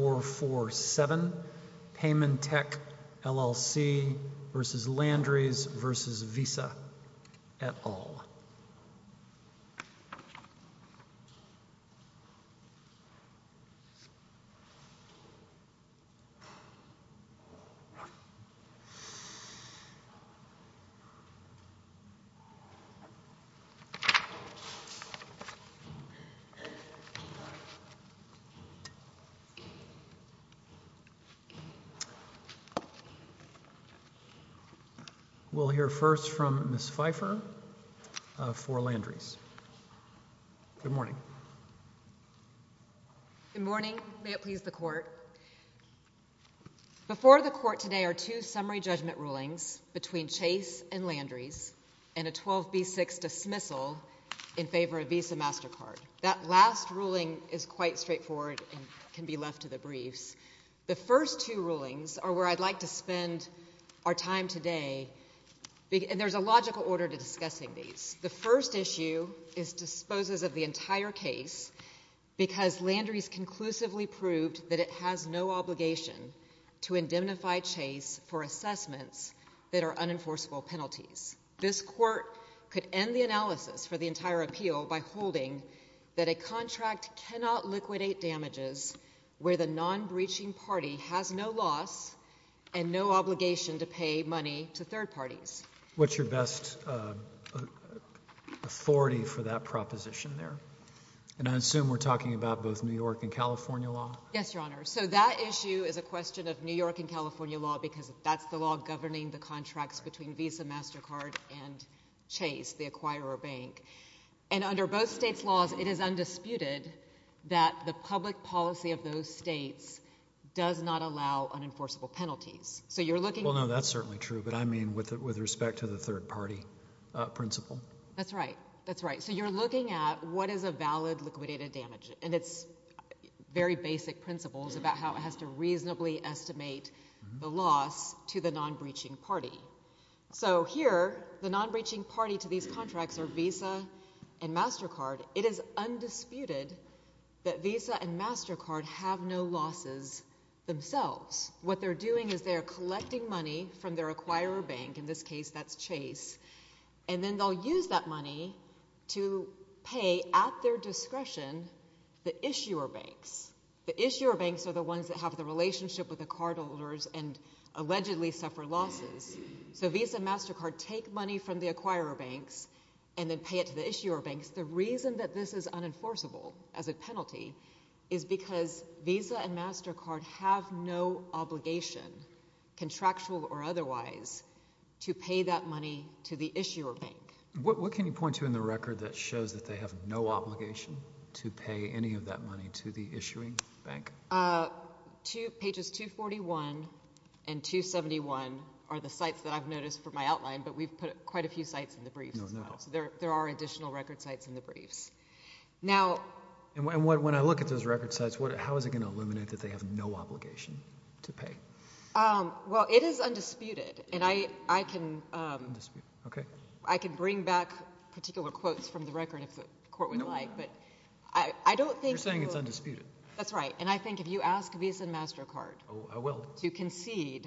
v. Visa, et al. Before the court today are two summary judgment rulings between Chase and Landry's and a 12B6 dismissal in favor of Visa MasterCard. That last ruling is quite straightforward and can be left to the briefs. The first two rulings are where I'd like to spend our time today, and there's a logical order to discussing these. The first issue is disposes of the entire case because Landry's conclusively proved that it has no obligation to indemnify Chase for assessments that are unenforceable penalties. This court could end the analysis for the entire appeal by holding that a contract cannot liquidate damages where the non-breaching party has no loss and no obligation to pay money to third parties. What's your best authority for that proposition there? And I assume we're talking about both New York and California law? Yes, Your Honor. So that issue is a question of New York and California law because that's the law governing the contracts between Visa MasterCard and Chase, the acquirer bank. And under both states' laws, it is undisputed that the public policy of those states does not allow unenforceable penalties. So you're looking... Well, no, that's certainly true, but I mean with respect to the third-party principle. That's right. That's right. So you're looking at what is a valid liquidated damage, and it's very basic principles about how it has to reasonably estimate the loss to the non-breaching party. So here, the non-breaching party to these contracts are Visa and MasterCard. It is undisputed that Visa and MasterCard have no losses themselves. What they're doing is they're collecting money from their acquirer bank, in this case that's Chase, and then they'll use that money to pay at their discretion the issuer banks. The issuer banks are the ones that have the relationship with the cardholders and allegedly suffer losses. So Visa and MasterCard take money from the acquirer banks and then pay it to the issuer banks. The reason that this is unenforceable as a penalty is because Visa and MasterCard have no obligation, contractual or otherwise, to pay that money to the issuer bank. What can you point to in the record that shows that they have no obligation to pay any of that money to the issuing bank? Pages 241 and 271 are the sites that I've noticed from my outline, but we've put quite a few sites in the briefs as well. There are additional record sites in the briefs. When I look at those record sites, how is it going to eliminate that they have no obligation to pay? Well, it is undisputed. I can bring back particular quotes from the record if the court would like, but I don't You're saying it's undisputed. That's right. And I think if you ask Visa and MasterCard to concede,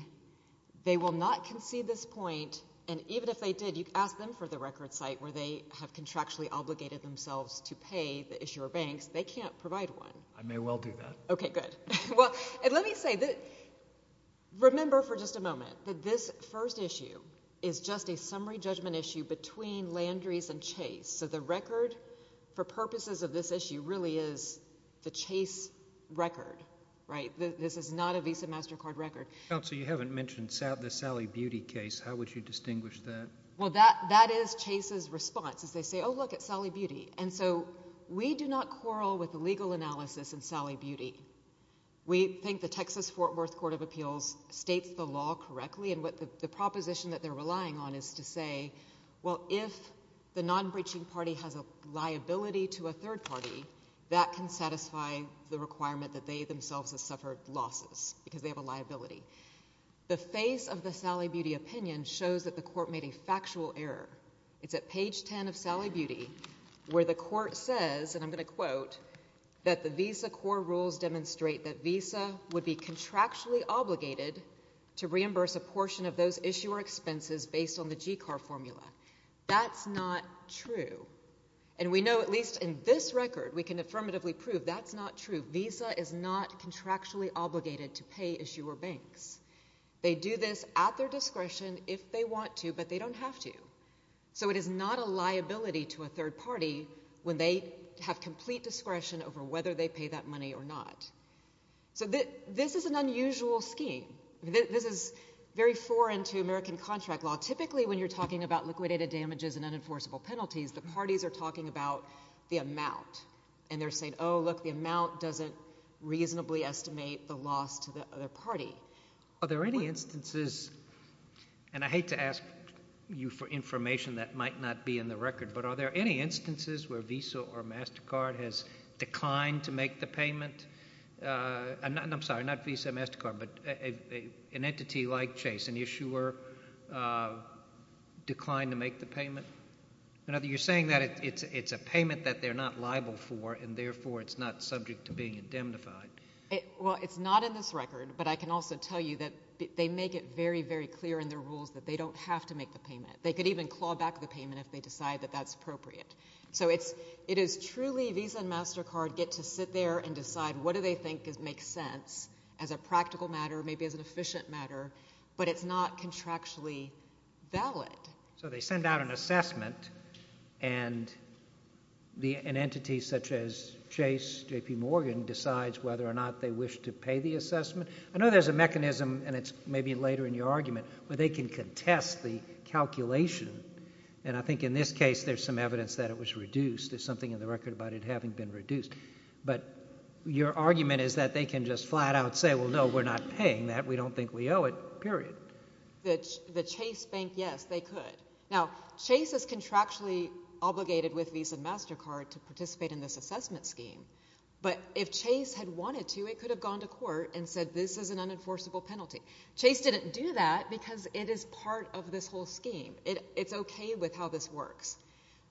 they will not concede this point. And even if they did, you'd ask them for the record site where they have contractually obligated themselves to pay the issuer banks. They can't provide one. I may well do that. Okay, good. Well, let me say, remember for just a moment that this first issue is just a summary judgment issue between Landry's and Chase. So the record for purposes of this issue really is the Chase record, right? This is not a Visa MasterCard record. Counsel, you haven't mentioned the Sally Beauty case. How would you distinguish that? Well, that is Chase's response is they say, oh, look, it's Sally Beauty. And so we do not quarrel with the legal analysis in Sally Beauty. We think the Texas Fort Worth Court of Appeals states the law correctly and what the proposition that they're relying on is to say, well, if the non-breaching party has a liability to a third party, that can satisfy the requirement that they themselves have suffered losses because they have a liability. The face of the Sally Beauty opinion shows that the court made a factual error. It's at page 10 of Sally Beauty where the court says, and I'm going to quote, that the Visa core rules demonstrate that Visa would be contractually obligated to reimburse a third party's expenses based on the GCAR formula. That's not true. And we know, at least in this record, we can affirmatively prove that's not true. Visa is not contractually obligated to pay issuer banks. They do this at their discretion if they want to, but they don't have to. So it is not a liability to a third party when they have complete discretion over whether they pay that money or not. So this is an unusual scheme. This is very foreign to American contract law. Typically when you're talking about liquidated damages and unenforceable penalties, the parties are talking about the amount, and they're saying, oh, look, the amount doesn't reasonably estimate the loss to the other party. Are there any instances, and I hate to ask you for information that might not be in the record, but are there any instances where Visa or MasterCard has declined to make the payment? I'm sorry, not Visa or MasterCard, but an entity like Chase, an issuer declined to make the payment? You're saying that it's a payment that they're not liable for, and therefore it's not subject to being indemnified. Well, it's not in this record, but I can also tell you that they make it very, very clear in their rules that they don't have to make the payment. They could even claw back the payment if they decide that that's appropriate. So it is truly Visa and MasterCard get to sit there and decide what do they think makes sense as a practical matter, maybe as an efficient matter, but it's not contractually valid. So they send out an assessment, and an entity such as Chase, J.P. Morgan, decides whether or not they wish to pay the assessment. I know there's a mechanism, and it's maybe later in your argument, where they can contest the calculation, and I think in this case, there's some evidence that it was reduced. There's something in the record about it having been reduced. But your argument is that they can just flat out say, well, no, we're not paying that. We don't think we owe it, period. The Chase bank, yes, they could. Now Chase is contractually obligated with Visa and MasterCard to participate in this assessment scheme, but if Chase had wanted to, it could have gone to court and said, this is an unenforceable penalty. Chase didn't do that because it is part of this whole scheme. It's okay with how this works.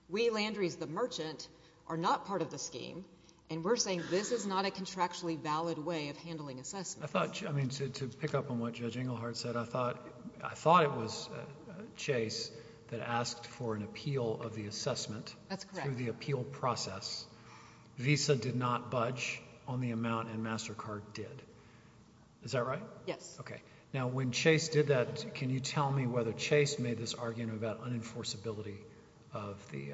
We Landry's, the merchant, are not part of the scheme, and we're saying this is not a contractually valid way of handling assessments. I thought, I mean, to pick up on what Judge Engelhardt said, I thought it was Chase that asked for an appeal of the assessment through the appeal process. Visa did not budge on the amount, and MasterCard did. Is that right? Yes. Okay. Now, when Chase did that, can you tell me whether Chase made this argument about unenforceability of the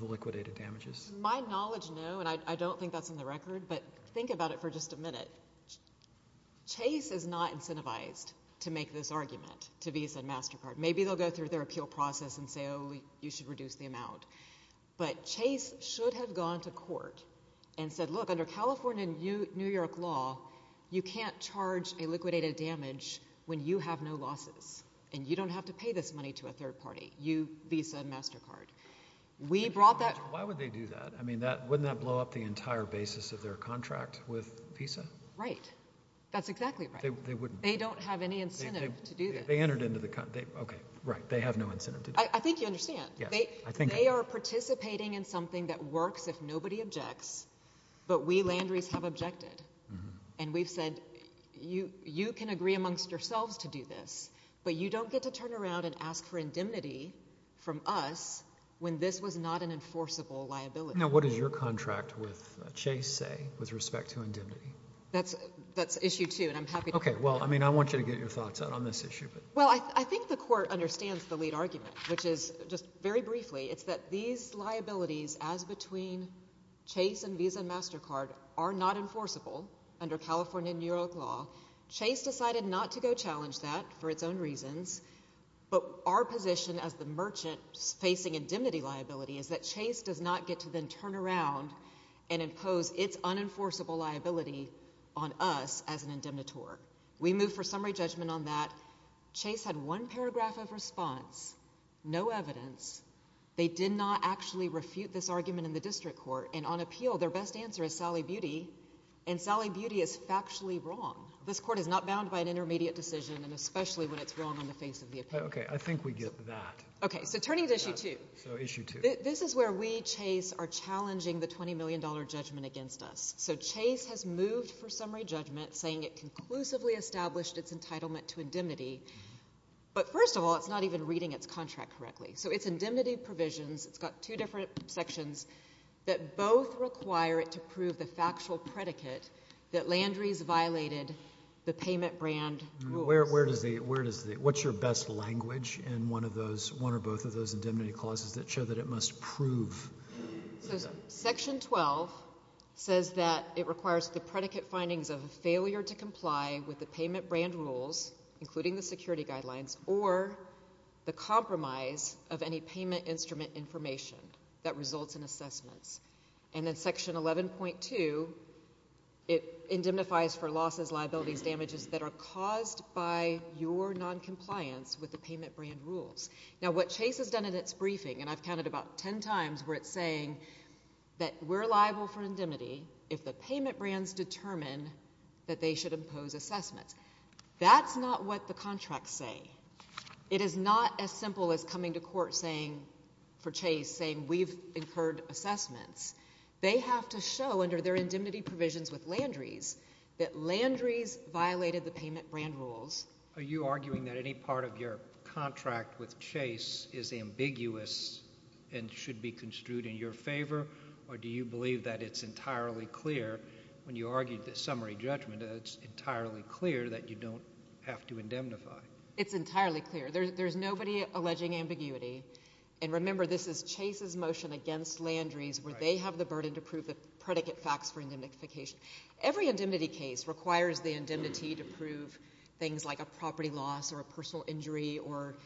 liquidated damages? My knowledge, no, and I don't think that's on the record, but think about it for just a minute. Chase is not incentivized to make this argument to Visa and MasterCard. Maybe they'll go through their appeal process and say, oh, you should reduce the amount, but Chase should have gone to court and said, look, under California and New York law, you can't charge a liquidated damage when you have no losses, and you don't have to pay this money to a third party, you, Visa, MasterCard. We brought that. Why would they do that? I mean, wouldn't that blow up the entire basis of their contract with Visa? Right. That's exactly right. They wouldn't. They don't have any incentive to do that. They entered into the, okay, right, they have no incentive to do that. I think you understand. Yes, I think I do. They are participating in something that works if nobody objects, but we landries have objected, and we've said, you can agree amongst yourselves to do this, but you don't get to turn around and ask for indemnity from us when this was not an enforceable liability. Now, what does your contract with Chase say with respect to indemnity? That's issue two, and I'm happy to. Okay. Well, I mean, I want you to get your thoughts out on this issue. Well, I think the court understands the lead argument, which is, just very briefly, it's that these liabilities as between Chase and Visa and MasterCard are not enforceable under California and New York law. Chase decided not to go challenge that for its own reasons, but our position as the merchant facing indemnity liability is that Chase does not get to then turn around and impose its unenforceable liability on us as an indemnitor. We move for summary judgment on that. Chase had one paragraph of response, no evidence. They did not actually refute this argument in the district court, and on appeal, their best answer is Sally Beauty, and Sally Beauty is factually wrong. This court is not bound by an intermediate decision, and especially when it's wrong on the face of the appeal. Okay. I think we get that. Okay. So turning to issue two. So issue two. This is where we, Chase, are challenging the $20 million judgment against us. So Chase has moved for summary judgment, saying it conclusively established its entitlement to indemnity, but first of all, it's not even reading its contract correctly. So it's indemnity provisions. It's got two different sections that both require it to prove the factual predicate that Landry's violated the payment brand rules. Where does the, what's your best language in one of those, one or both of those indemnity clauses that show that it must prove? Section 12 says that it requires the predicate findings of a failure to comply with the payment brand rules, including the security guidelines, or the compromise of any payment instrument information that results in assessments. And then section 11.2, it indemnifies for losses, liabilities, damages that are caused by your noncompliance with the payment brand rules. Now what Chase has done in its briefing, and I've counted about 10 times where it's saying that we're liable for indemnity if the payment brands determine that they should impose assessments. That's not what the contracts say. It is not as simple as coming to court saying, for Chase, saying we've incurred assessments. They have to show under their indemnity provisions with Landry's that Landry's violated the payment brand rules. Are you arguing that any part of your contract with Chase is ambiguous and should be construed in your favor, or do you believe that it's entirely clear, when you argued the summary judgment, that it's entirely clear that you don't have to indemnify? It's entirely clear. There's nobody alleging ambiguity. And remember, this is Chase's motion against Landry's, where they have the burden to prove the predicate facts for indemnification. Every indemnity case requires the indemnity to prove things like a property loss or a personal injury or,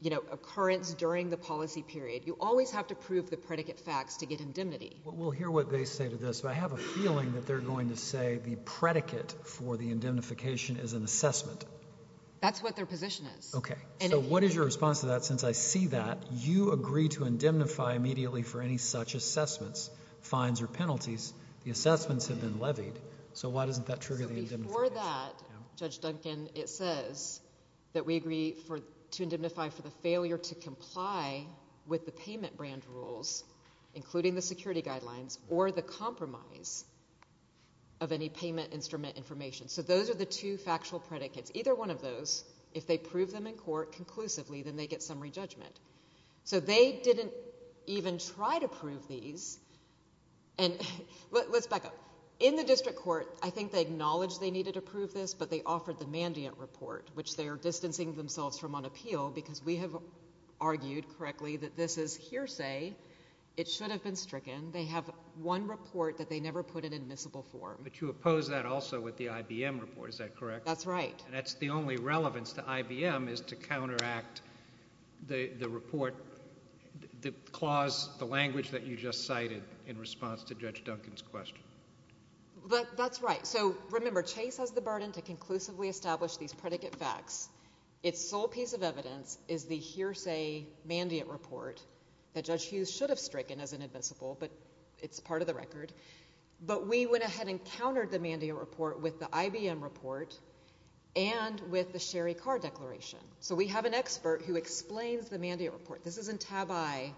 you know, occurrence during the policy period. You always have to prove the predicate facts to get indemnity. We'll hear what they say to this, but I have a feeling that they're going to say the predicate for the indemnification is an assessment. That's what their position is. Okay. So what is your response to that? Since I see that, you agree to indemnify immediately for any such assessments, fines or penalties. The assessments have been levied. So why doesn't that trigger the indemnification? Before that, Judge Duncan, it says that we agree to indemnify for the failure to comply with the payment brand rules, including the security guidelines, or the compromise of any payment instrument information. So those are the two factual predicates. Either one of those, if they prove them in court conclusively, then they get summary judgment. So they didn't even try to prove these. And let's back up. In the district court, I think they acknowledged they needed to prove this, but they offered the Mandiant Report, which they are distancing themselves from on appeal because we have argued, correctly, that this is hearsay. It should have been stricken. They have one report that they never put in admissible form. But you oppose that also with the IBM report, is that correct? That's right. And that's the only relevance to IBM is to counteract the report, the clause, the language that you just cited in response to Judge Duncan's question. That's right. So remember, Chase has the burden to conclusively establish these predicate facts. Its sole piece of evidence is the hearsay Mandiant Report that Judge Hughes should have stricken as inadmissible, but it's part of the record. But we went ahead and countered the Mandiant Report with the IBM report and with the Sherry Carr declaration. So we have an expert who explains the Mandiant Report. This is in tab I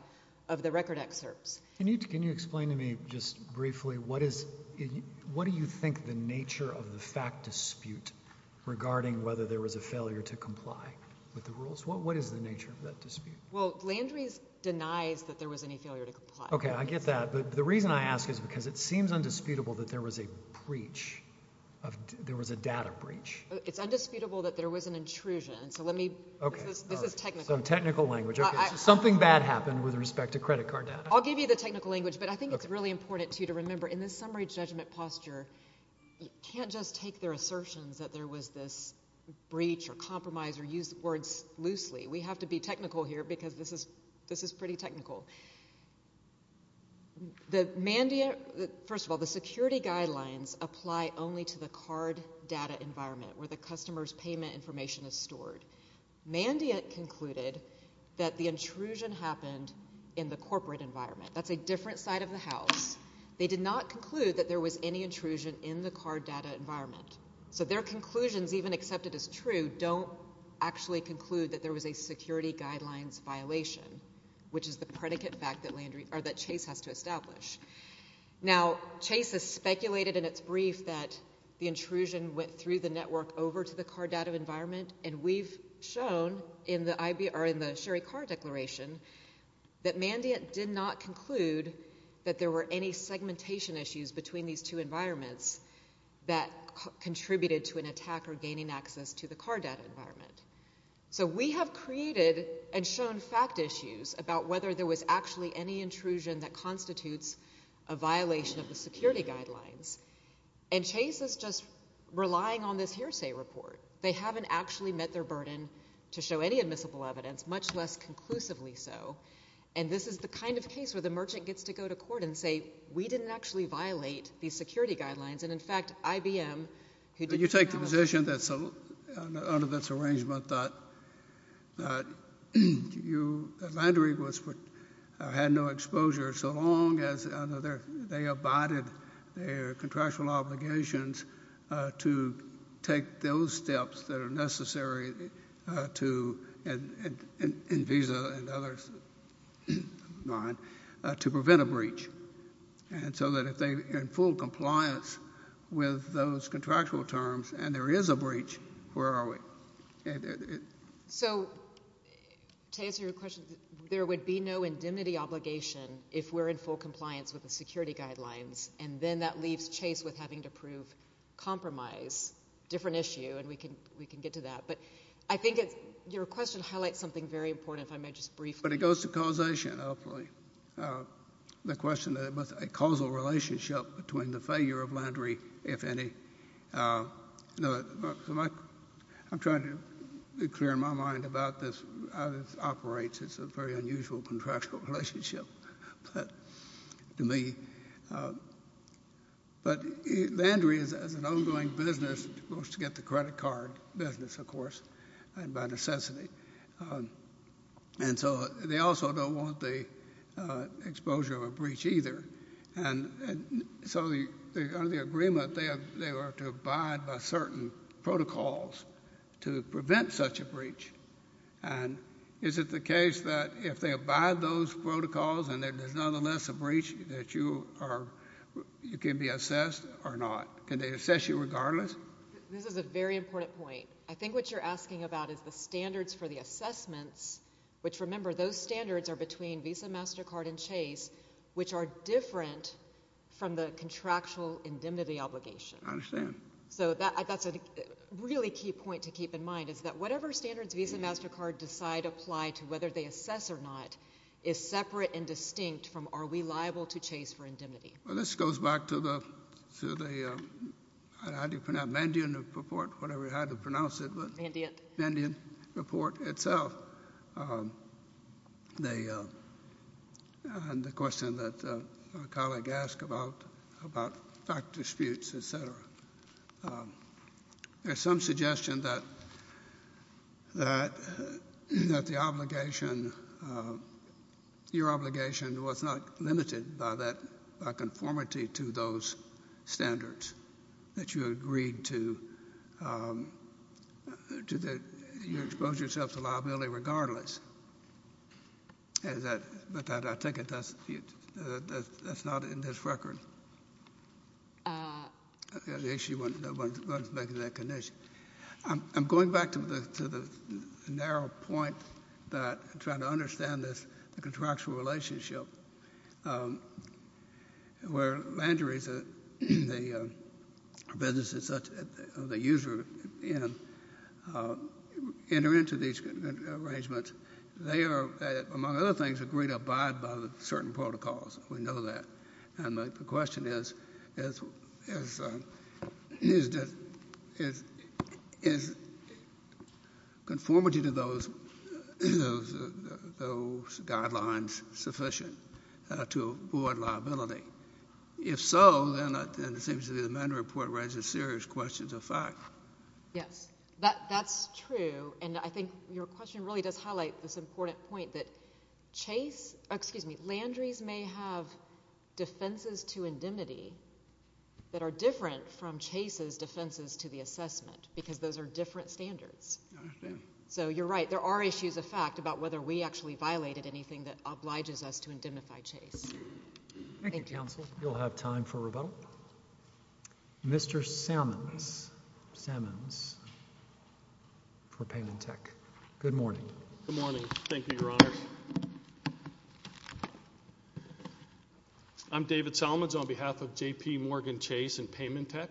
of the record excerpts. Can you explain to me just briefly, what do you think the nature of the fact dispute regarding whether there was a failure to comply with the rules? What is the nature of that dispute? Well, Landry's denies that there was any failure to comply. Okay, I get that. But the reason I ask is because it seems undisputable that there was a breach, there was a data breach. It's undisputable that there was an intrusion. So let me... Okay. This is technical. So technical language. Okay. Something bad happened with respect to credit card data. I'll give you the technical language, but I think it's really important, too, to remember in this summary judgment posture, you can't just take their assertions that there was this breach or compromise or use words loosely. We have to be technical here because this is pretty technical. The Mandiant... First of all, the security guidelines apply only to the card data environment where the customer's payment information is stored. Mandiant concluded that the intrusion happened in the corporate environment. That's a different side of the house. They did not conclude that there was any intrusion in the card data environment. So their conclusions, even accepted as true, don't actually conclude that there was a security guidelines violation, which is the predicate fact that Chase has to establish. Now Chase has speculated in its brief that the intrusion went through the network over to the card data environment, and we've shown in the Sherry Card Declaration that Mandiant did not conclude that there were any segmentation issues between these two environments that contributed to an attacker gaining access to the card data environment. So we have created and shown fact issues about whether there was actually any intrusion that constitutes a violation of the security guidelines, and Chase is just relying on this hearsay report. They haven't actually met their burden to show any admissible evidence, much less conclusively so. And this is the kind of case where the merchant gets to go to court and say, we didn't actually violate these security guidelines, and in fact, IBM, who did not— You take the position that's under this arrangement that you, that Mandiant had no exposure so long as under their, they abided their contractual obligations to take those steps that are necessary to, and Visa and others, to prevent a breach. And so that if they're in full compliance with those contractual terms and there is a breach, where are we? So to answer your question, there would be no indemnity obligation if we're in full compliance with the security guidelines, and then that leaves Chase with having to prove compromise. Different issue, and we can get to that. But I think your question highlights something very important, if I may just briefly— But it goes to causation, hopefully. The question of a causal relationship between the failure of Landry, if any—I'm trying to be clear in my mind about how this operates. It's a very unusual contractual relationship to me. But Landry is an ongoing business, wants to get the credit card business, of course, and by necessity. And so they also don't want the exposure of a breach either. And so under the agreement, they are to abide by certain protocols to prevent such a breach. And is it the case that if they abide those protocols and there's nonetheless a breach that you can be assessed or not? Can they assess you regardless? This is a very important point. I think what you're asking about is the standards for the assessments, which remember, those standards are between Visa MasterCard and Chase, which are different from the contractual indemnity obligation. I understand. So that's a really key point to keep in mind, is that whatever standards Visa MasterCard decide apply to, whether they assess or not, is separate and distinct from are we liable to Chase for indemnity? Well, this goes back to the—how do you pronounce—Mandiant report, whatever you have to pronounce it. Mandiant. Mandiant report itself. And the question that a colleague asked about doctor disputes, et cetera, there's some that the obligation—your obligation was not limited by that—by conformity to those standards, that you agreed to—to the—you exposed yourself to liability regardless. And that—but I take it that's not in this record. The issue wasn't making that connection. I'm going back to the narrow point that I'm trying to understand this, the contractual relationship, where landuries or businesses of the user enter into these arrangements. They are, among other things, agreed to abide by certain protocols. We know that. And the question is, is conformity to those guidelines sufficient to avoid liability? If so, then it seems to me the Mandiant report raises serious questions of fact. Yes. That's true. And I think your question really does highlight this important point that Chase—excuse me, that landuries may have defenses to indemnity that are different from Chase's defenses to the assessment, because those are different standards. I understand. So, you're right. There are issues of fact about whether we actually violated anything that obliges us to indemnify Chase. Thank you, counsel. Thank you. We'll have time for rebuttal. Mr. Sammons, Sammons, for Payment Tech. Good morning. Good morning. Thank you, Your Honor. I'm David Sammons on behalf of JPMorgan Chase and Payment Tech.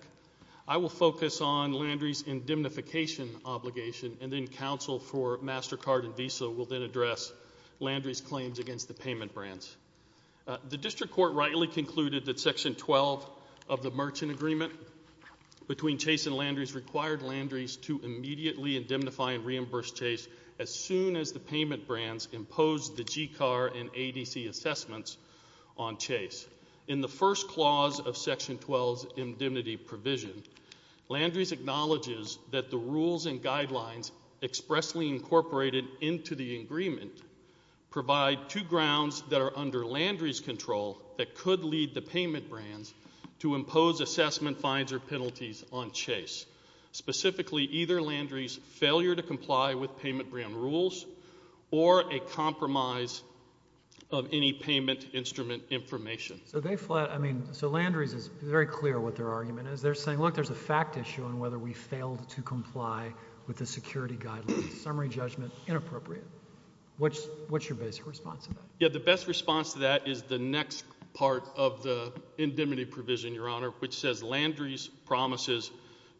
I will focus on Landry's indemnification obligation, and then counsel for MasterCard and Visa will then address Landry's claims against the payment brands. The district court rightly concluded that Section 12 of the merchant agreement between Chase and Landry's required Landry's to immediately indemnify and reimburse Chase as soon as the payment brands imposed the GCAR and ADC assessments on Chase. In the first clause of Section 12's indemnity provision, Landry's acknowledges that the rules and guidelines expressly incorporated into the agreement provide two grounds that are under Landry's control that could lead the payment brands to impose assessment fines or penalties on Chase. Specifically, either Landry's failure to comply with payment brand rules or a compromise of any payment instrument information. So Landry's is very clear what their argument is. They're saying, look, there's a fact issue on whether we failed to comply with the security guidelines. Summary judgment, inappropriate. What's your basic response to that? The best response to that is the next part of the indemnity provision, Your Honor, which says Landry's promises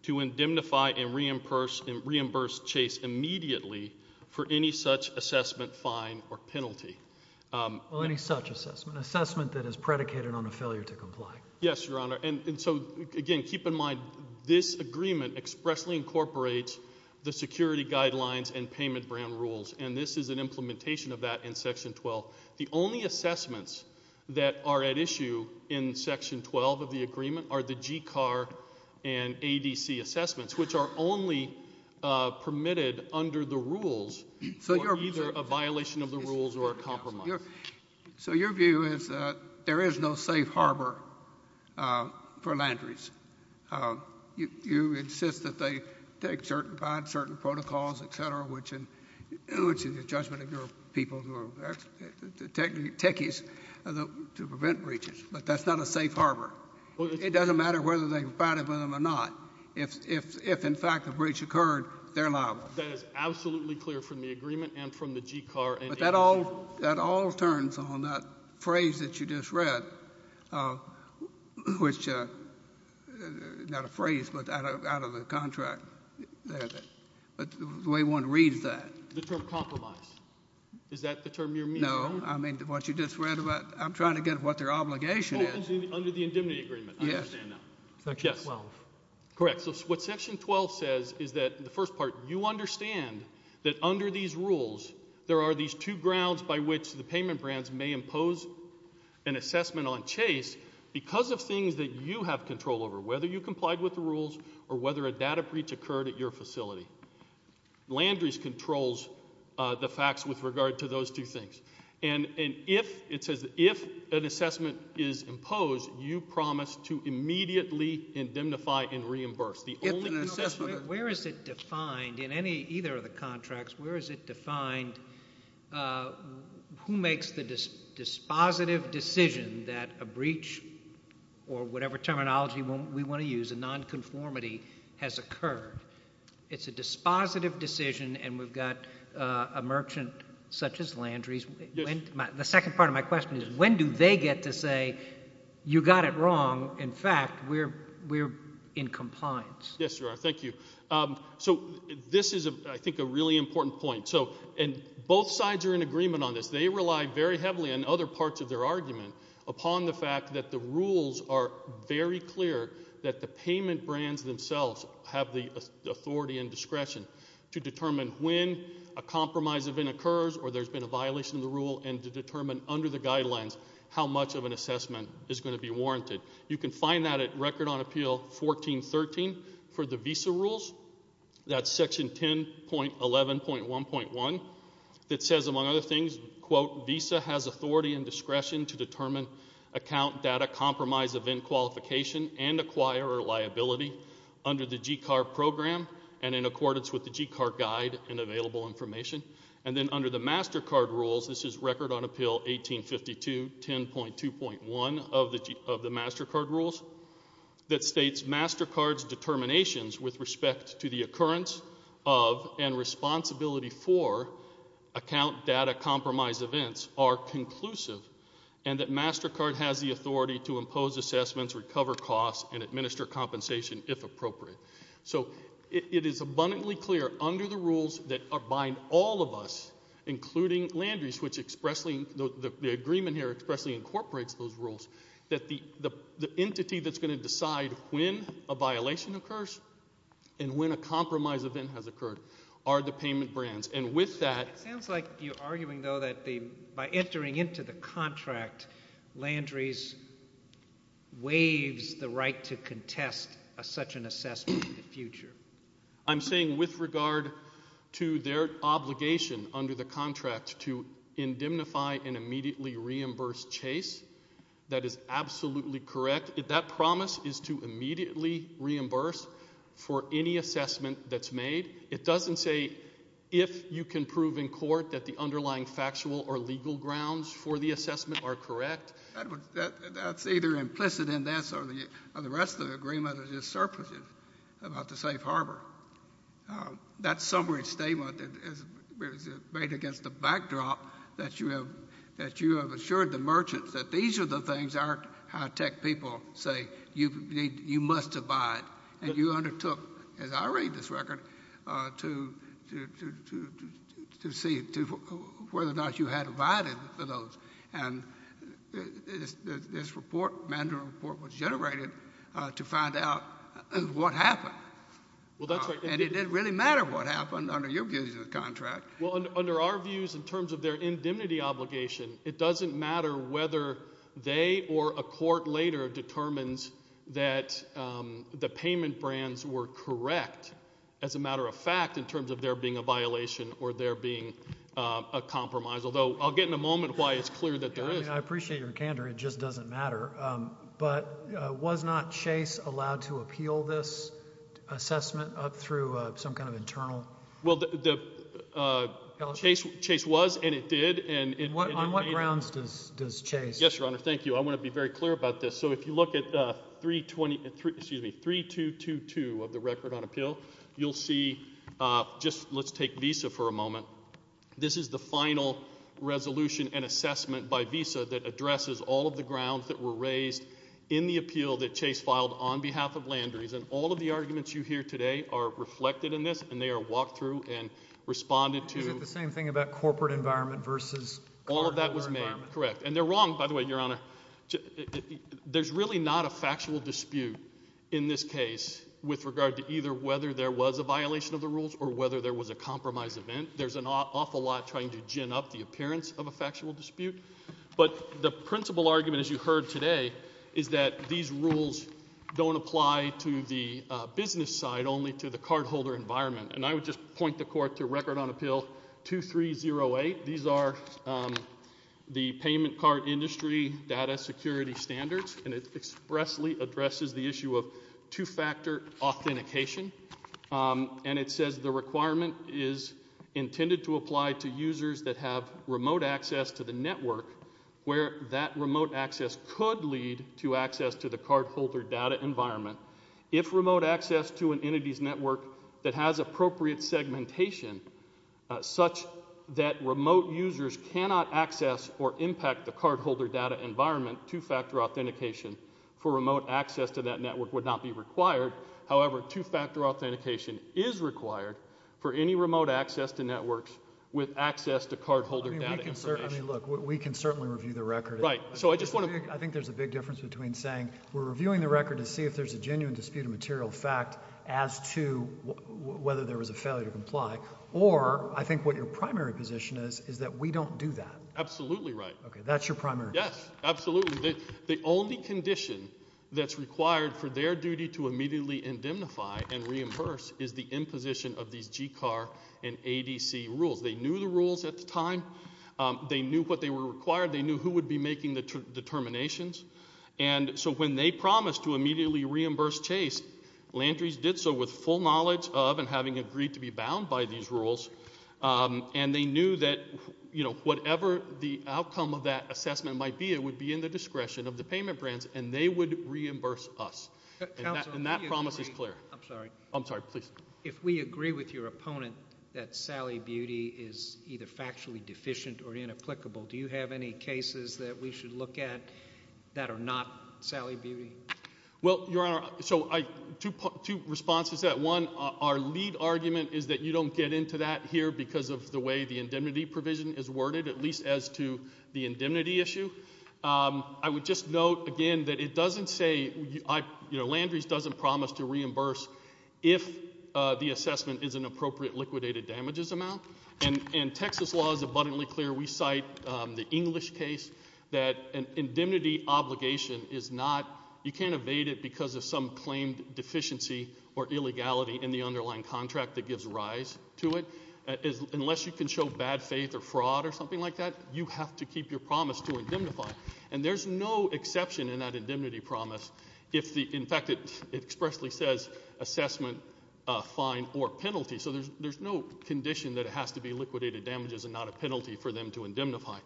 to indemnify and reimburse Chase immediately for any such assessment fine or penalty. Well, any such assessment. Assessment that is predicated on a failure to comply. Yes, Your Honor. And so, again, keep in mind this agreement expressly incorporates the security guidelines and payment brand rules. And this is an implementation of that in Section 12. The only assessments that are at issue in Section 12 of the agreement are the GCAR and ADC assessments, which are only permitted under the rules for either a violation of the rules or a compromise. So your view is that there is no safe harbor for Landry's. You insist that they take certain fines, certain protocols, et cetera, which in the judgment ignore people who are techies to prevent breaches. But that's not a safe harbor. It doesn't matter whether they provided for them or not. If, in fact, a breach occurred, they're liable. That is absolutely clear from the agreement and from the GCAR and ADC. But that all turns on that phrase that you just read, which is not a phrase, but out of the contract. The way one reads that. The term compromise. Is that the term you're meaning? No. I mean, what you just read about. I'm trying to get what their obligation is. Under the indemnity agreement. Yes. I understand now. Section 12. Correct. So what Section 12 says is that, in the first part, you understand that under these rules there are these two grounds by which the payment brands may impose an assessment on Chase because of things that you have control over, whether you complied with the rules or whether a data breach occurred at your facility. Landry's controls the facts with regard to those two things. And if, it says, if an assessment is imposed, you promise to immediately indemnify and reimburse. If an assessment... Where is it defined, in any, either of the contracts, where is it defined who makes the dispositive decision that a breach, or whatever terminology we want to use, a nonconformity has occurred. It's a dispositive decision and we've got a merchant such as Landry's. Yes. The second part of my question is, when do they get to say, you got it wrong. In fact, we're in compliance. Yes, you are. Thank you. So this is, I think, a really important point. So, and both sides are in agreement on this. They rely very heavily on other parts of their argument upon the fact that the rules are very clear that the payment brands themselves have the authority and discretion to determine when a compromise event occurs or there's been a violation of the rule and to determine under the guidelines how much of an assessment is going to be warranted. You can find that at Record on Appeal 1413 for the visa rules. That's section 10.11.1.1 that says, among other things, quote, a visa has authority and discretion to determine account data compromise event qualification and acquire or liability under the GCAR program and in accordance with the GCAR guide and available information. And then under the MasterCard rules, this is Record on Appeal 1852.10.2.1 of the MasterCard rules that states MasterCard's determinations with respect to the occurrence of and responsibility for account data compromise events are conclusive and that MasterCard has the authority to impose assessments, recover costs, and administer compensation if appropriate. So it is abundantly clear under the rules that bind all of us, including Landry's, which expressly, the agreement here expressly incorporates those rules, that the entity that's going to decide when a violation occurs and when a compromise event has occurred are the payment brands. And with that... It sounds like you're arguing, though, that by entering into the contract, Landry's waives the right to contest such an assessment in the future. I'm saying with regard to their obligation under the contract to indemnify and immediately reimburse Chase, that is absolutely correct. That promise is to immediately reimburse for any assessment that's made. It doesn't say if you can prove in court that the underlying factual or legal grounds for the assessment are correct. That's either implicit in this or the rest of the agreement is just surpluses about the safe harbor. That summary statement is made against the backdrop that you have assured the merchants that these are the things our high-tech people say you must abide. And you undertook, as I read this record, to see whether or not you had abided to those. And this report, mandatory report, was generated to find out what happened. Well, that's right. And it didn't really matter what happened under your views of the contract. Well, under our views in terms of their indemnity obligation, it doesn't matter whether they or a court later determines that the payment brands were correct as a matter of fact in terms of there being a violation or there being a compromise. Although I'll get in a moment why it's clear that there is. I appreciate your candor. It just doesn't matter. But was not Chase allowed to appeal this assessment up through some kind of internal? Well, Chase was and it did. On what grounds does Chase? Yes, Your Honor. Thank you. I want to be very clear about this. So if you look at 3222 of the record on appeal, you'll see just let's take Visa for a moment. This is the final resolution and assessment by Visa that addresses all of the grounds that were raised in the appeal that Chase filed on behalf of Landry's. All of the arguments you hear today are reflected in this and they are walked through and responded to. Is it the same thing about corporate environment versus? All of that was made, correct. And they're wrong, by the way, Your Honor. There's really not a factual dispute in this case with regard to either whether there was a violation of the rules or whether there was a compromise event. There's an awful lot trying to gin up the appearance of a factual dispute. But the principal argument, as you heard today, is that these rules don't apply to the business side, only to the cardholder environment. And I would just point the court to record on appeal 2308. These are the payment card industry data security standards and it expressly addresses the issue of two-factor authentication. And it says the requirement is intended to apply to users that have remote access to the network where that remote access could lead to access to the cardholder data environment. If remote access to an entity's network that has appropriate segmentation such that remote users cannot access or impact the cardholder data environment, two-factor authentication for remote access to that network would not be required. However, two-factor authentication is required for any remote access to networks with access to cardholder data information. I mean, look, we can certainly review the record. Right. I think there's a big difference between saying we're reviewing the record to see if there's a genuine dispute of material fact as to whether there was a failure to comply or I think what your primary position is is that we don't do that. Absolutely right. Okay, that's your primary. Yes, absolutely. The only condition that's required for their duty to immediately indemnify and reimburse is the imposition of these GCAR and ADC rules. They knew the rules at the time. They knew what they were required. They knew who would be making the determinations. And so when they promised to immediately reimburse Chase, Landry's did so with full knowledge of and having agreed to be bound by these rules and they knew that, you know, whatever the outcome of that assessment might be, it would be in the discretion of the payment brands and they would reimburse us. And that promise is clear. I'm sorry. I'm sorry. Please. If we agree with your opponent that Sally Beauty is either factually deficient or inapplicable, do you have any cases that we should look at that are not Sally Beauty? Well, Your Honor, so two responses to that. One, our lead argument is that you don't get into that here because of the way the indemnity provision is worded, at least as to the indemnity issue. I would just note again that it doesn't say, you know, Landry's doesn't promise to reimburse if the assessment is an appropriate liquidated damages amount. And Texas law is abundantly clear. We cite the English case that an indemnity obligation is not, you can't evade it because of some claimed deficiency or illegality in the underlying contract that gives rise to it. Unless you can show bad faith or fraud or something like that, you have to keep your promise to indemnify. And there's no exception in that indemnity promise if the, in fact, it expressly says assessment, fine, or penalty. So there's no condition that it has to be liquidated damages and not a penalty for them to indemnify.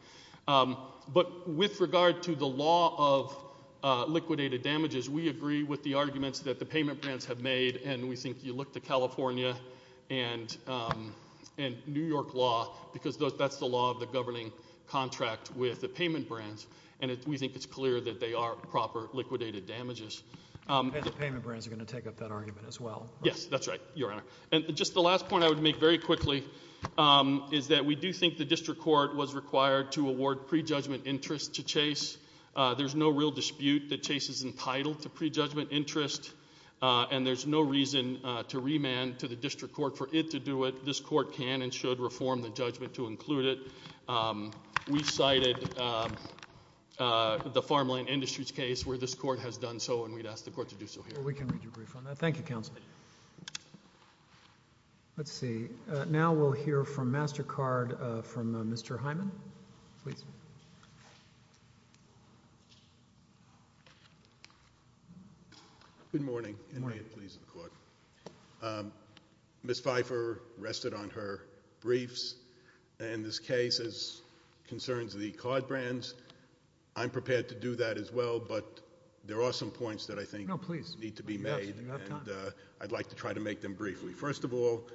But with regard to the law of liquidated damages, we agree with the arguments that the payment brands have made and we think you look to California and New York law because that's the law of the governing contract with the payment brands and we think it's clear that they are proper liquidated damages. And the payment brands are going to take up that argument as well. Yes, that's right, Your Honor. And just the last point I would make very quickly is that we do think the district court was required to award prejudgment interest to Chase. There's no real dispute that Chase is entitled to prejudgment interest and there's no reason to remand to the district court for it to do it. This court can and should reform the judgment to include it. We cited the Farmland Industries case where this court has done so and we'd ask the court to do so here. Well, we can read your brief on that. Thank you, Counsel. Let's see. Now we'll hear from MasterCard from Mr. Hyman. Please. Good morning and may it please the court. Ms. Pfeiffer rested on her briefs and this case concerns the card brands. I'm prepared to do that as well, but there are some points that I think need to be made. You have time. I'd like to try to make them briefly. First of all,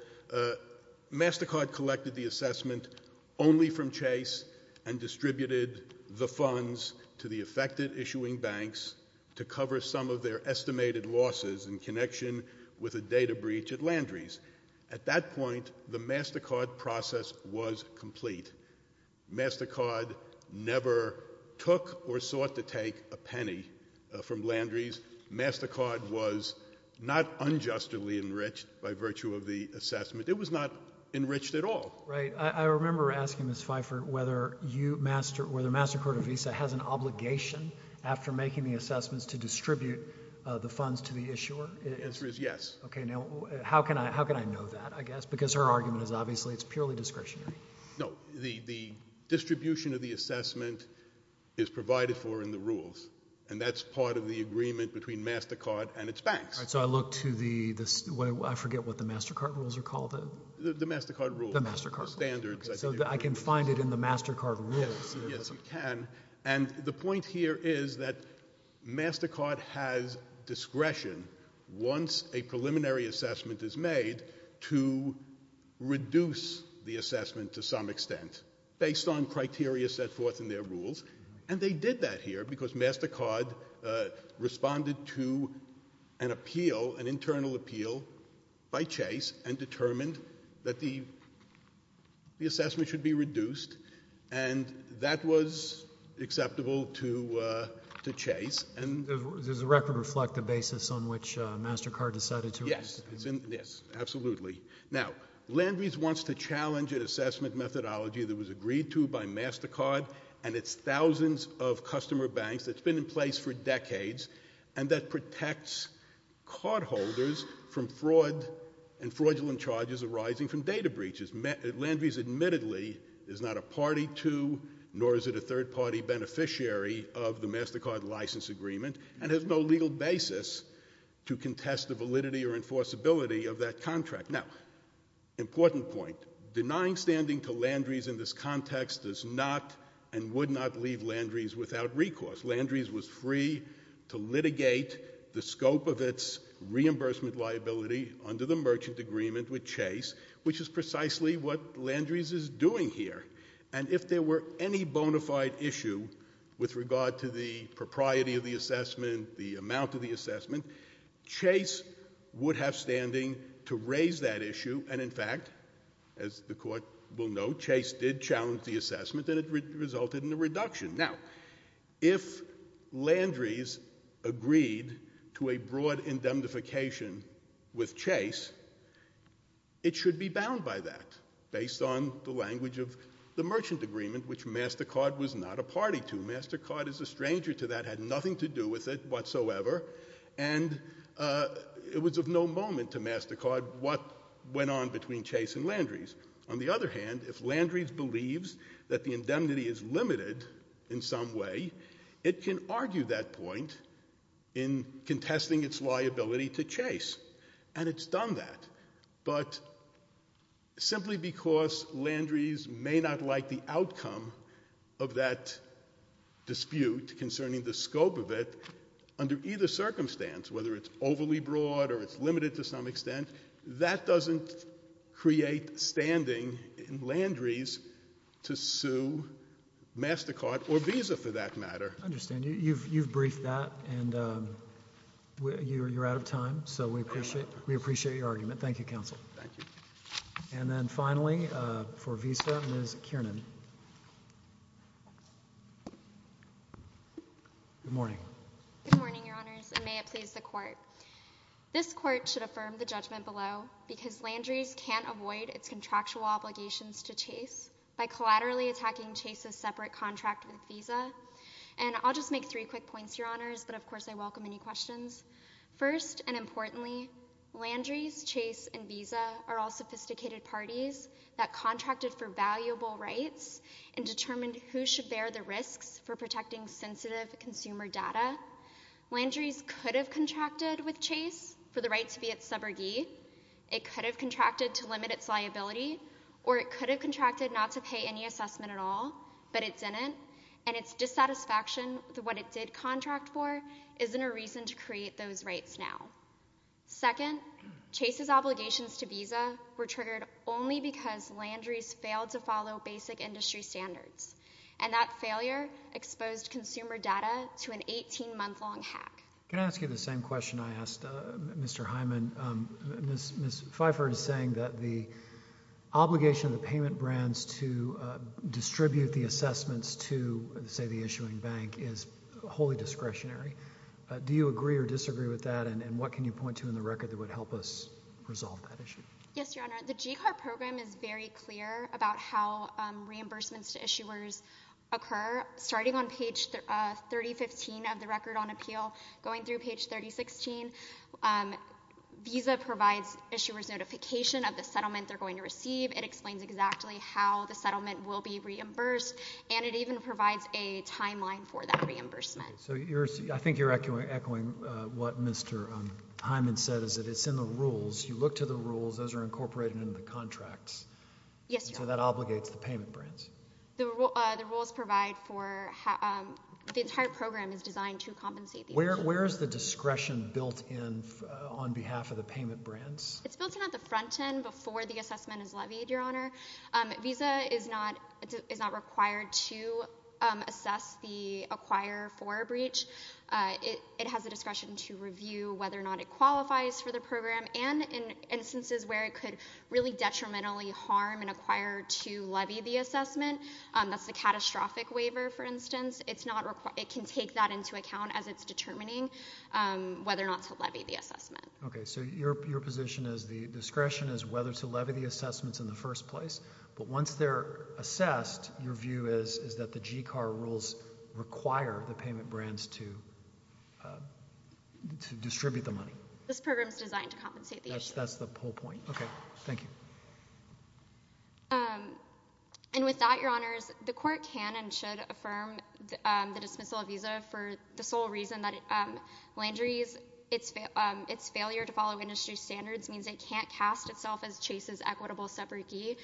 MasterCard collected the assessment only from Chase and distributed the funds to the affected issuing banks to cover some of their estimated losses in connection with a data breach at Landry's. At that point, the MasterCard process was complete. MasterCard never took or sought to take a penny from Landry's. MasterCard was not unjustly enriched by virtue of the assessment. It was not enriched at all. Right. I remember asking Ms. Pfeiffer whether MasterCard or Visa has an obligation after making the assessments to distribute the funds to the issuer. The answer is yes. Okay. Now, how can I know that, I guess? Because her argument is obviously it's purely discretionary. No. The distribution of the assessment is provided for in the rules and that's part of the agreement between MasterCard and its banks. So I look to the, I forget what the MasterCard rules are called. The MasterCard rules. The MasterCard rules. The standards. So I can find it in the MasterCard rules. Yes, you can. And the point here is that MasterCard has discretion once a preliminary assessment is made to reduce the assessment to some extent based on criteria set forth in their rules. And they did that here because MasterCard responded to an appeal, an internal appeal by Chase and determined that the assessment should be reduced and that was acceptable to Chase. Does the record reflect the basis on which MasterCard decided to reduce the assessment? Yes. Absolutely. Now, Landry's wants to challenge an assessment methodology that was agreed to by MasterCard and its thousands of customer banks that's been in place for decades and that protects cardholders from fraud and fraudulent charges arising from data breaches. Landry's admittedly is not a party to nor is it a third-party beneficiary of the MasterCard license agreement and has no legal basis to contest the validity or enforceability of that contract. Now, important point. Denying standing to Landry's in this context does not and would not leave Landry's without recourse. Landry's was free to litigate the scope of its reimbursement liability under the merchant agreement with Chase which is precisely what Landry's is doing here. And if there were any bona fide issue with regard to the propriety of the assessment, the amount of the assessment, Chase would have standing to raise that issue and in fact, as the court will note, Chase did challenge the assessment and it resulted in a reduction. Now, if Landry's agreed to a broad indemnification with Chase, it should be bound by that based on the language of the merchant agreement which MasterCard was not a party to. MasterCard is a stranger to that, had nothing to do with it whatsoever and it was of no moment to MasterCard what went on between Chase and Landry's. On the other hand, if Landry's believes that the indemnity is limited in some way, it can argue that point in contesting its liability to Chase and it's done that. But simply because Landry's may not like the outcome of that dispute concerning the scope of it under either circumstance, whether it's overly broad or it's limited to some extent, that doesn't create standing in Landry's to sue MasterCard or Visa for that matter. I understand. You've briefed that and you're out of time so we appreciate your argument. Thank you, Counsel. And then finally, for Visa, Ms. Kiernan. Good morning. Good morning, Your Honors. And may it please the Court. This Court should affirm the judgment below because Landry's can't avoid its contractual obligations to Chase by collaterally attacking Chase's separate contract with Visa. And I'll just make three quick points, Your Honors, but of course I welcome any questions. First and importantly, Landry's, Chase, and Visa are all sophisticated parties that contracted for valuable rights and determined who should bear the risks for protecting sensitive consumer data. Landry's could have contracted with Chase for the right to be its subrogate. It could have contracted to limit its liability. Or it could have contracted not to pay any assessment at all. But it didn't. And its dissatisfaction with what it did contract for isn't a reason to create those rights now. Second, Chase's obligations to Visa were triggered only because Landry's failed to follow basic industry standards. And that failure exposed consumer data to an 18-month-long hack. Can I ask you the same question I asked Mr. Hyman? Ms. Pfeiffer is saying that the obligation of the payment brands to distribute the assessments to, say, the issuing bank is wholly discretionary. Do you agree or disagree with that? And what can you point to in the record that would help us resolve that issue? Yes, Your Honor. The GCAR program is very clear about how reimbursements to issuers occur. Starting on page 3015 of the record on appeal, going through page 3016, Visa provides issuers notification of the settlement they're going to receive. It explains exactly how the settlement will be reimbursed. And it even provides a timeline for that reimbursement. So I think you're echoing what Mr. Hyman said, is that it's in the rules. You look to the rules. Those are incorporated into the contracts. Yes, Your Honor. So that obligates the payment brands. The rules provide for... The entire program is designed to compensate the issuers. Where is the discretion built in on behalf of the payment brands? It's built in at the front end before the assessment is levied, Your Honor. Visa is not required to assess the acquirer for a breach. It has the discretion to review whether or not it qualifies for the program and in instances where it could really detrimentally harm an acquirer to levy the assessment. That's the catastrophic waiver, for instance. It can take that into account as it's determining whether or not to levy the assessment. Okay. So your position is the discretion is whether to levy the assessments in the first place. But once they're assessed, your view is that the GCAR rules require the payment brands to distribute the money. This program is designed to compensate the issuers. That's the whole point. Okay. Thank you. And with that, Your Honors, the Court can and should affirm the dismissal of Visa for the sole reason that Landry's failure to follow industry standards means it can't cast itself as Chase's equitable subrogate.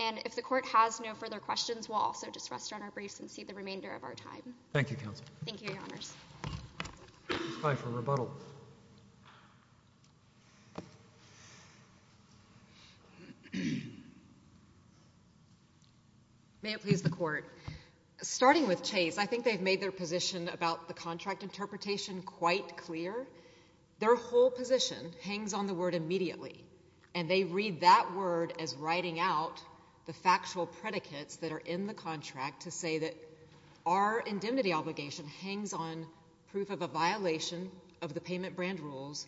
And if the Court has no further questions, we'll also just rest on our brace and see the remainder of our time. Thank you, Counsel. Thank you, Your Honors. Time for rebuttal. May it please the Court. Starting with Chase, I think they've made their position about the contract interpretation quite clear. Their whole position hangs on the word immediately. And they read that word as writing out the factual predicates that are in the contract to say that our indemnity obligation hangs on proof of a violation of the payment brand rules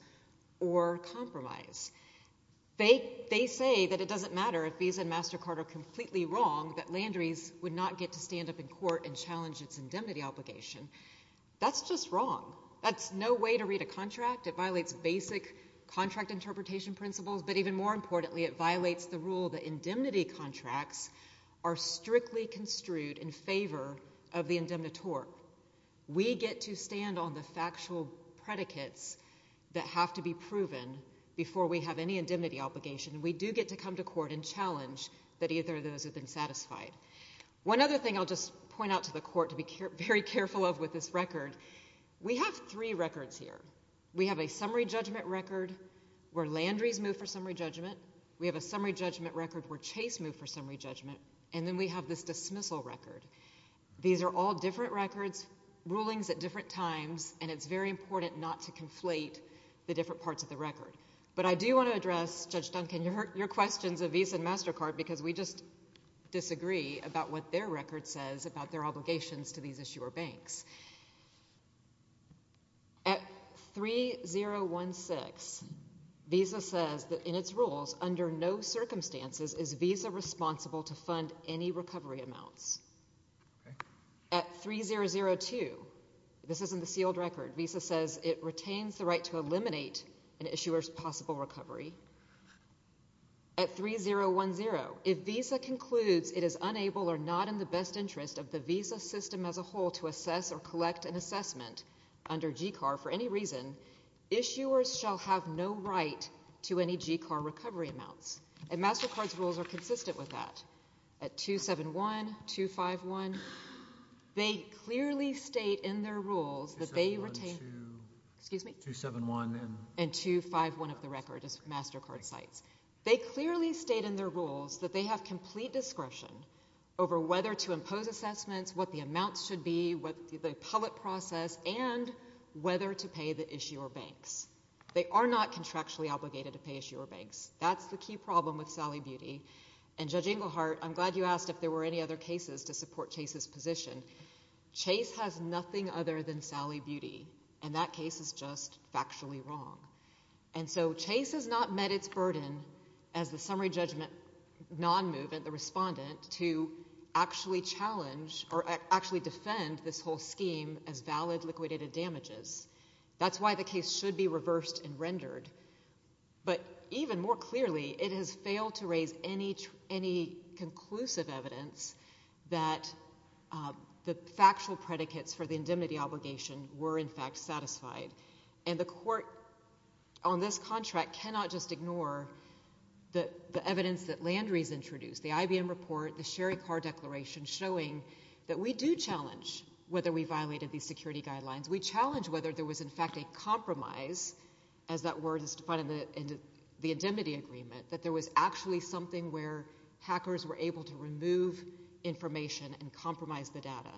or compromise. They say that it doesn't matter if Visa and MasterCard are completely wrong that Landry's would not get to stand up in court and challenge its indemnity obligation. That's just wrong. That's no way to read a contract. It violates basic contract interpretation principles. But even more importantly, it violates the rule that indemnity contracts are strictly construed in favor of the indemnitore. We get to stand on the factual predicates that have to be proven before we have any indemnity obligation. We do get to come to court and challenge that either of those have been satisfied. One other thing I'll just point out to the Court to be very careful of with this record, we have three records here. We have a summary judgment record where Landry's moved for summary judgment. We have a summary judgment record where Chase moved for summary judgment. And then we have this dismissal record. These are all different records, different rulings at different times, and it's very important not to conflate the different parts of the record. But I do want to address, Judge Duncan, your questions of Visa and MasterCard because we just disagree about what their record says about their obligations to these issuer banks. At 3016, Visa says that in its rules, under no circumstances is Visa responsible to fund any recovery amounts. At 3002, this is in the sealed record, Visa says it retains the right to eliminate an issuer's possible recovery. At 3010, if Visa concludes it is unable or not in the best interest of the Visa system as a whole to assess or collect an assessment under GCAR for any reason, issuers shall have no right to any GCAR recovery amounts. And MasterCard's rules are consistent with that. At 271, 251, they clearly state in their rules that they retain 271 and 251 of the record, as MasterCard cites. They clearly state in their rules that they have complete discretion over whether to impose assessments, what the amounts should be, the appellate process, and whether to pay the issuer banks. They are not contractually obligated to pay issuer banks. That's the key problem with Sally Beauty. And Judge Inglehart, I'm glad you asked if there were any other cases to support Chase's position. Chase has nothing other than Sally Beauty, and that case is just factually wrong. And so Chase has not met its burden as the summary judgment non-movement, the respondent, to actually challenge or actually defend this whole scheme as valid liquidated damages. That's why the case should be reversed and rendered. But even more clearly, it has failed to raise any conclusive evidence that the factual predicates for the indemnity obligation were in fact satisfied. And the court on this contract cannot just ignore the evidence that Landry's introduced, the IBM report, the Sherry Carr Declaration, showing that we do challenge whether we violated these security guidelines. We challenge whether there was in fact a compromise, as that word is defined in the indemnity agreement, that there was actually something where hackers were able to remove information and compromise the data.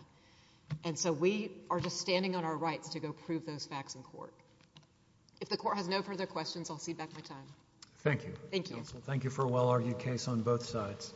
And so we are just standing on our rights to go prove those facts in court. If the court has no further questions, I'll cede back my time. Thank you. Thank you for a well-argued case on both sides.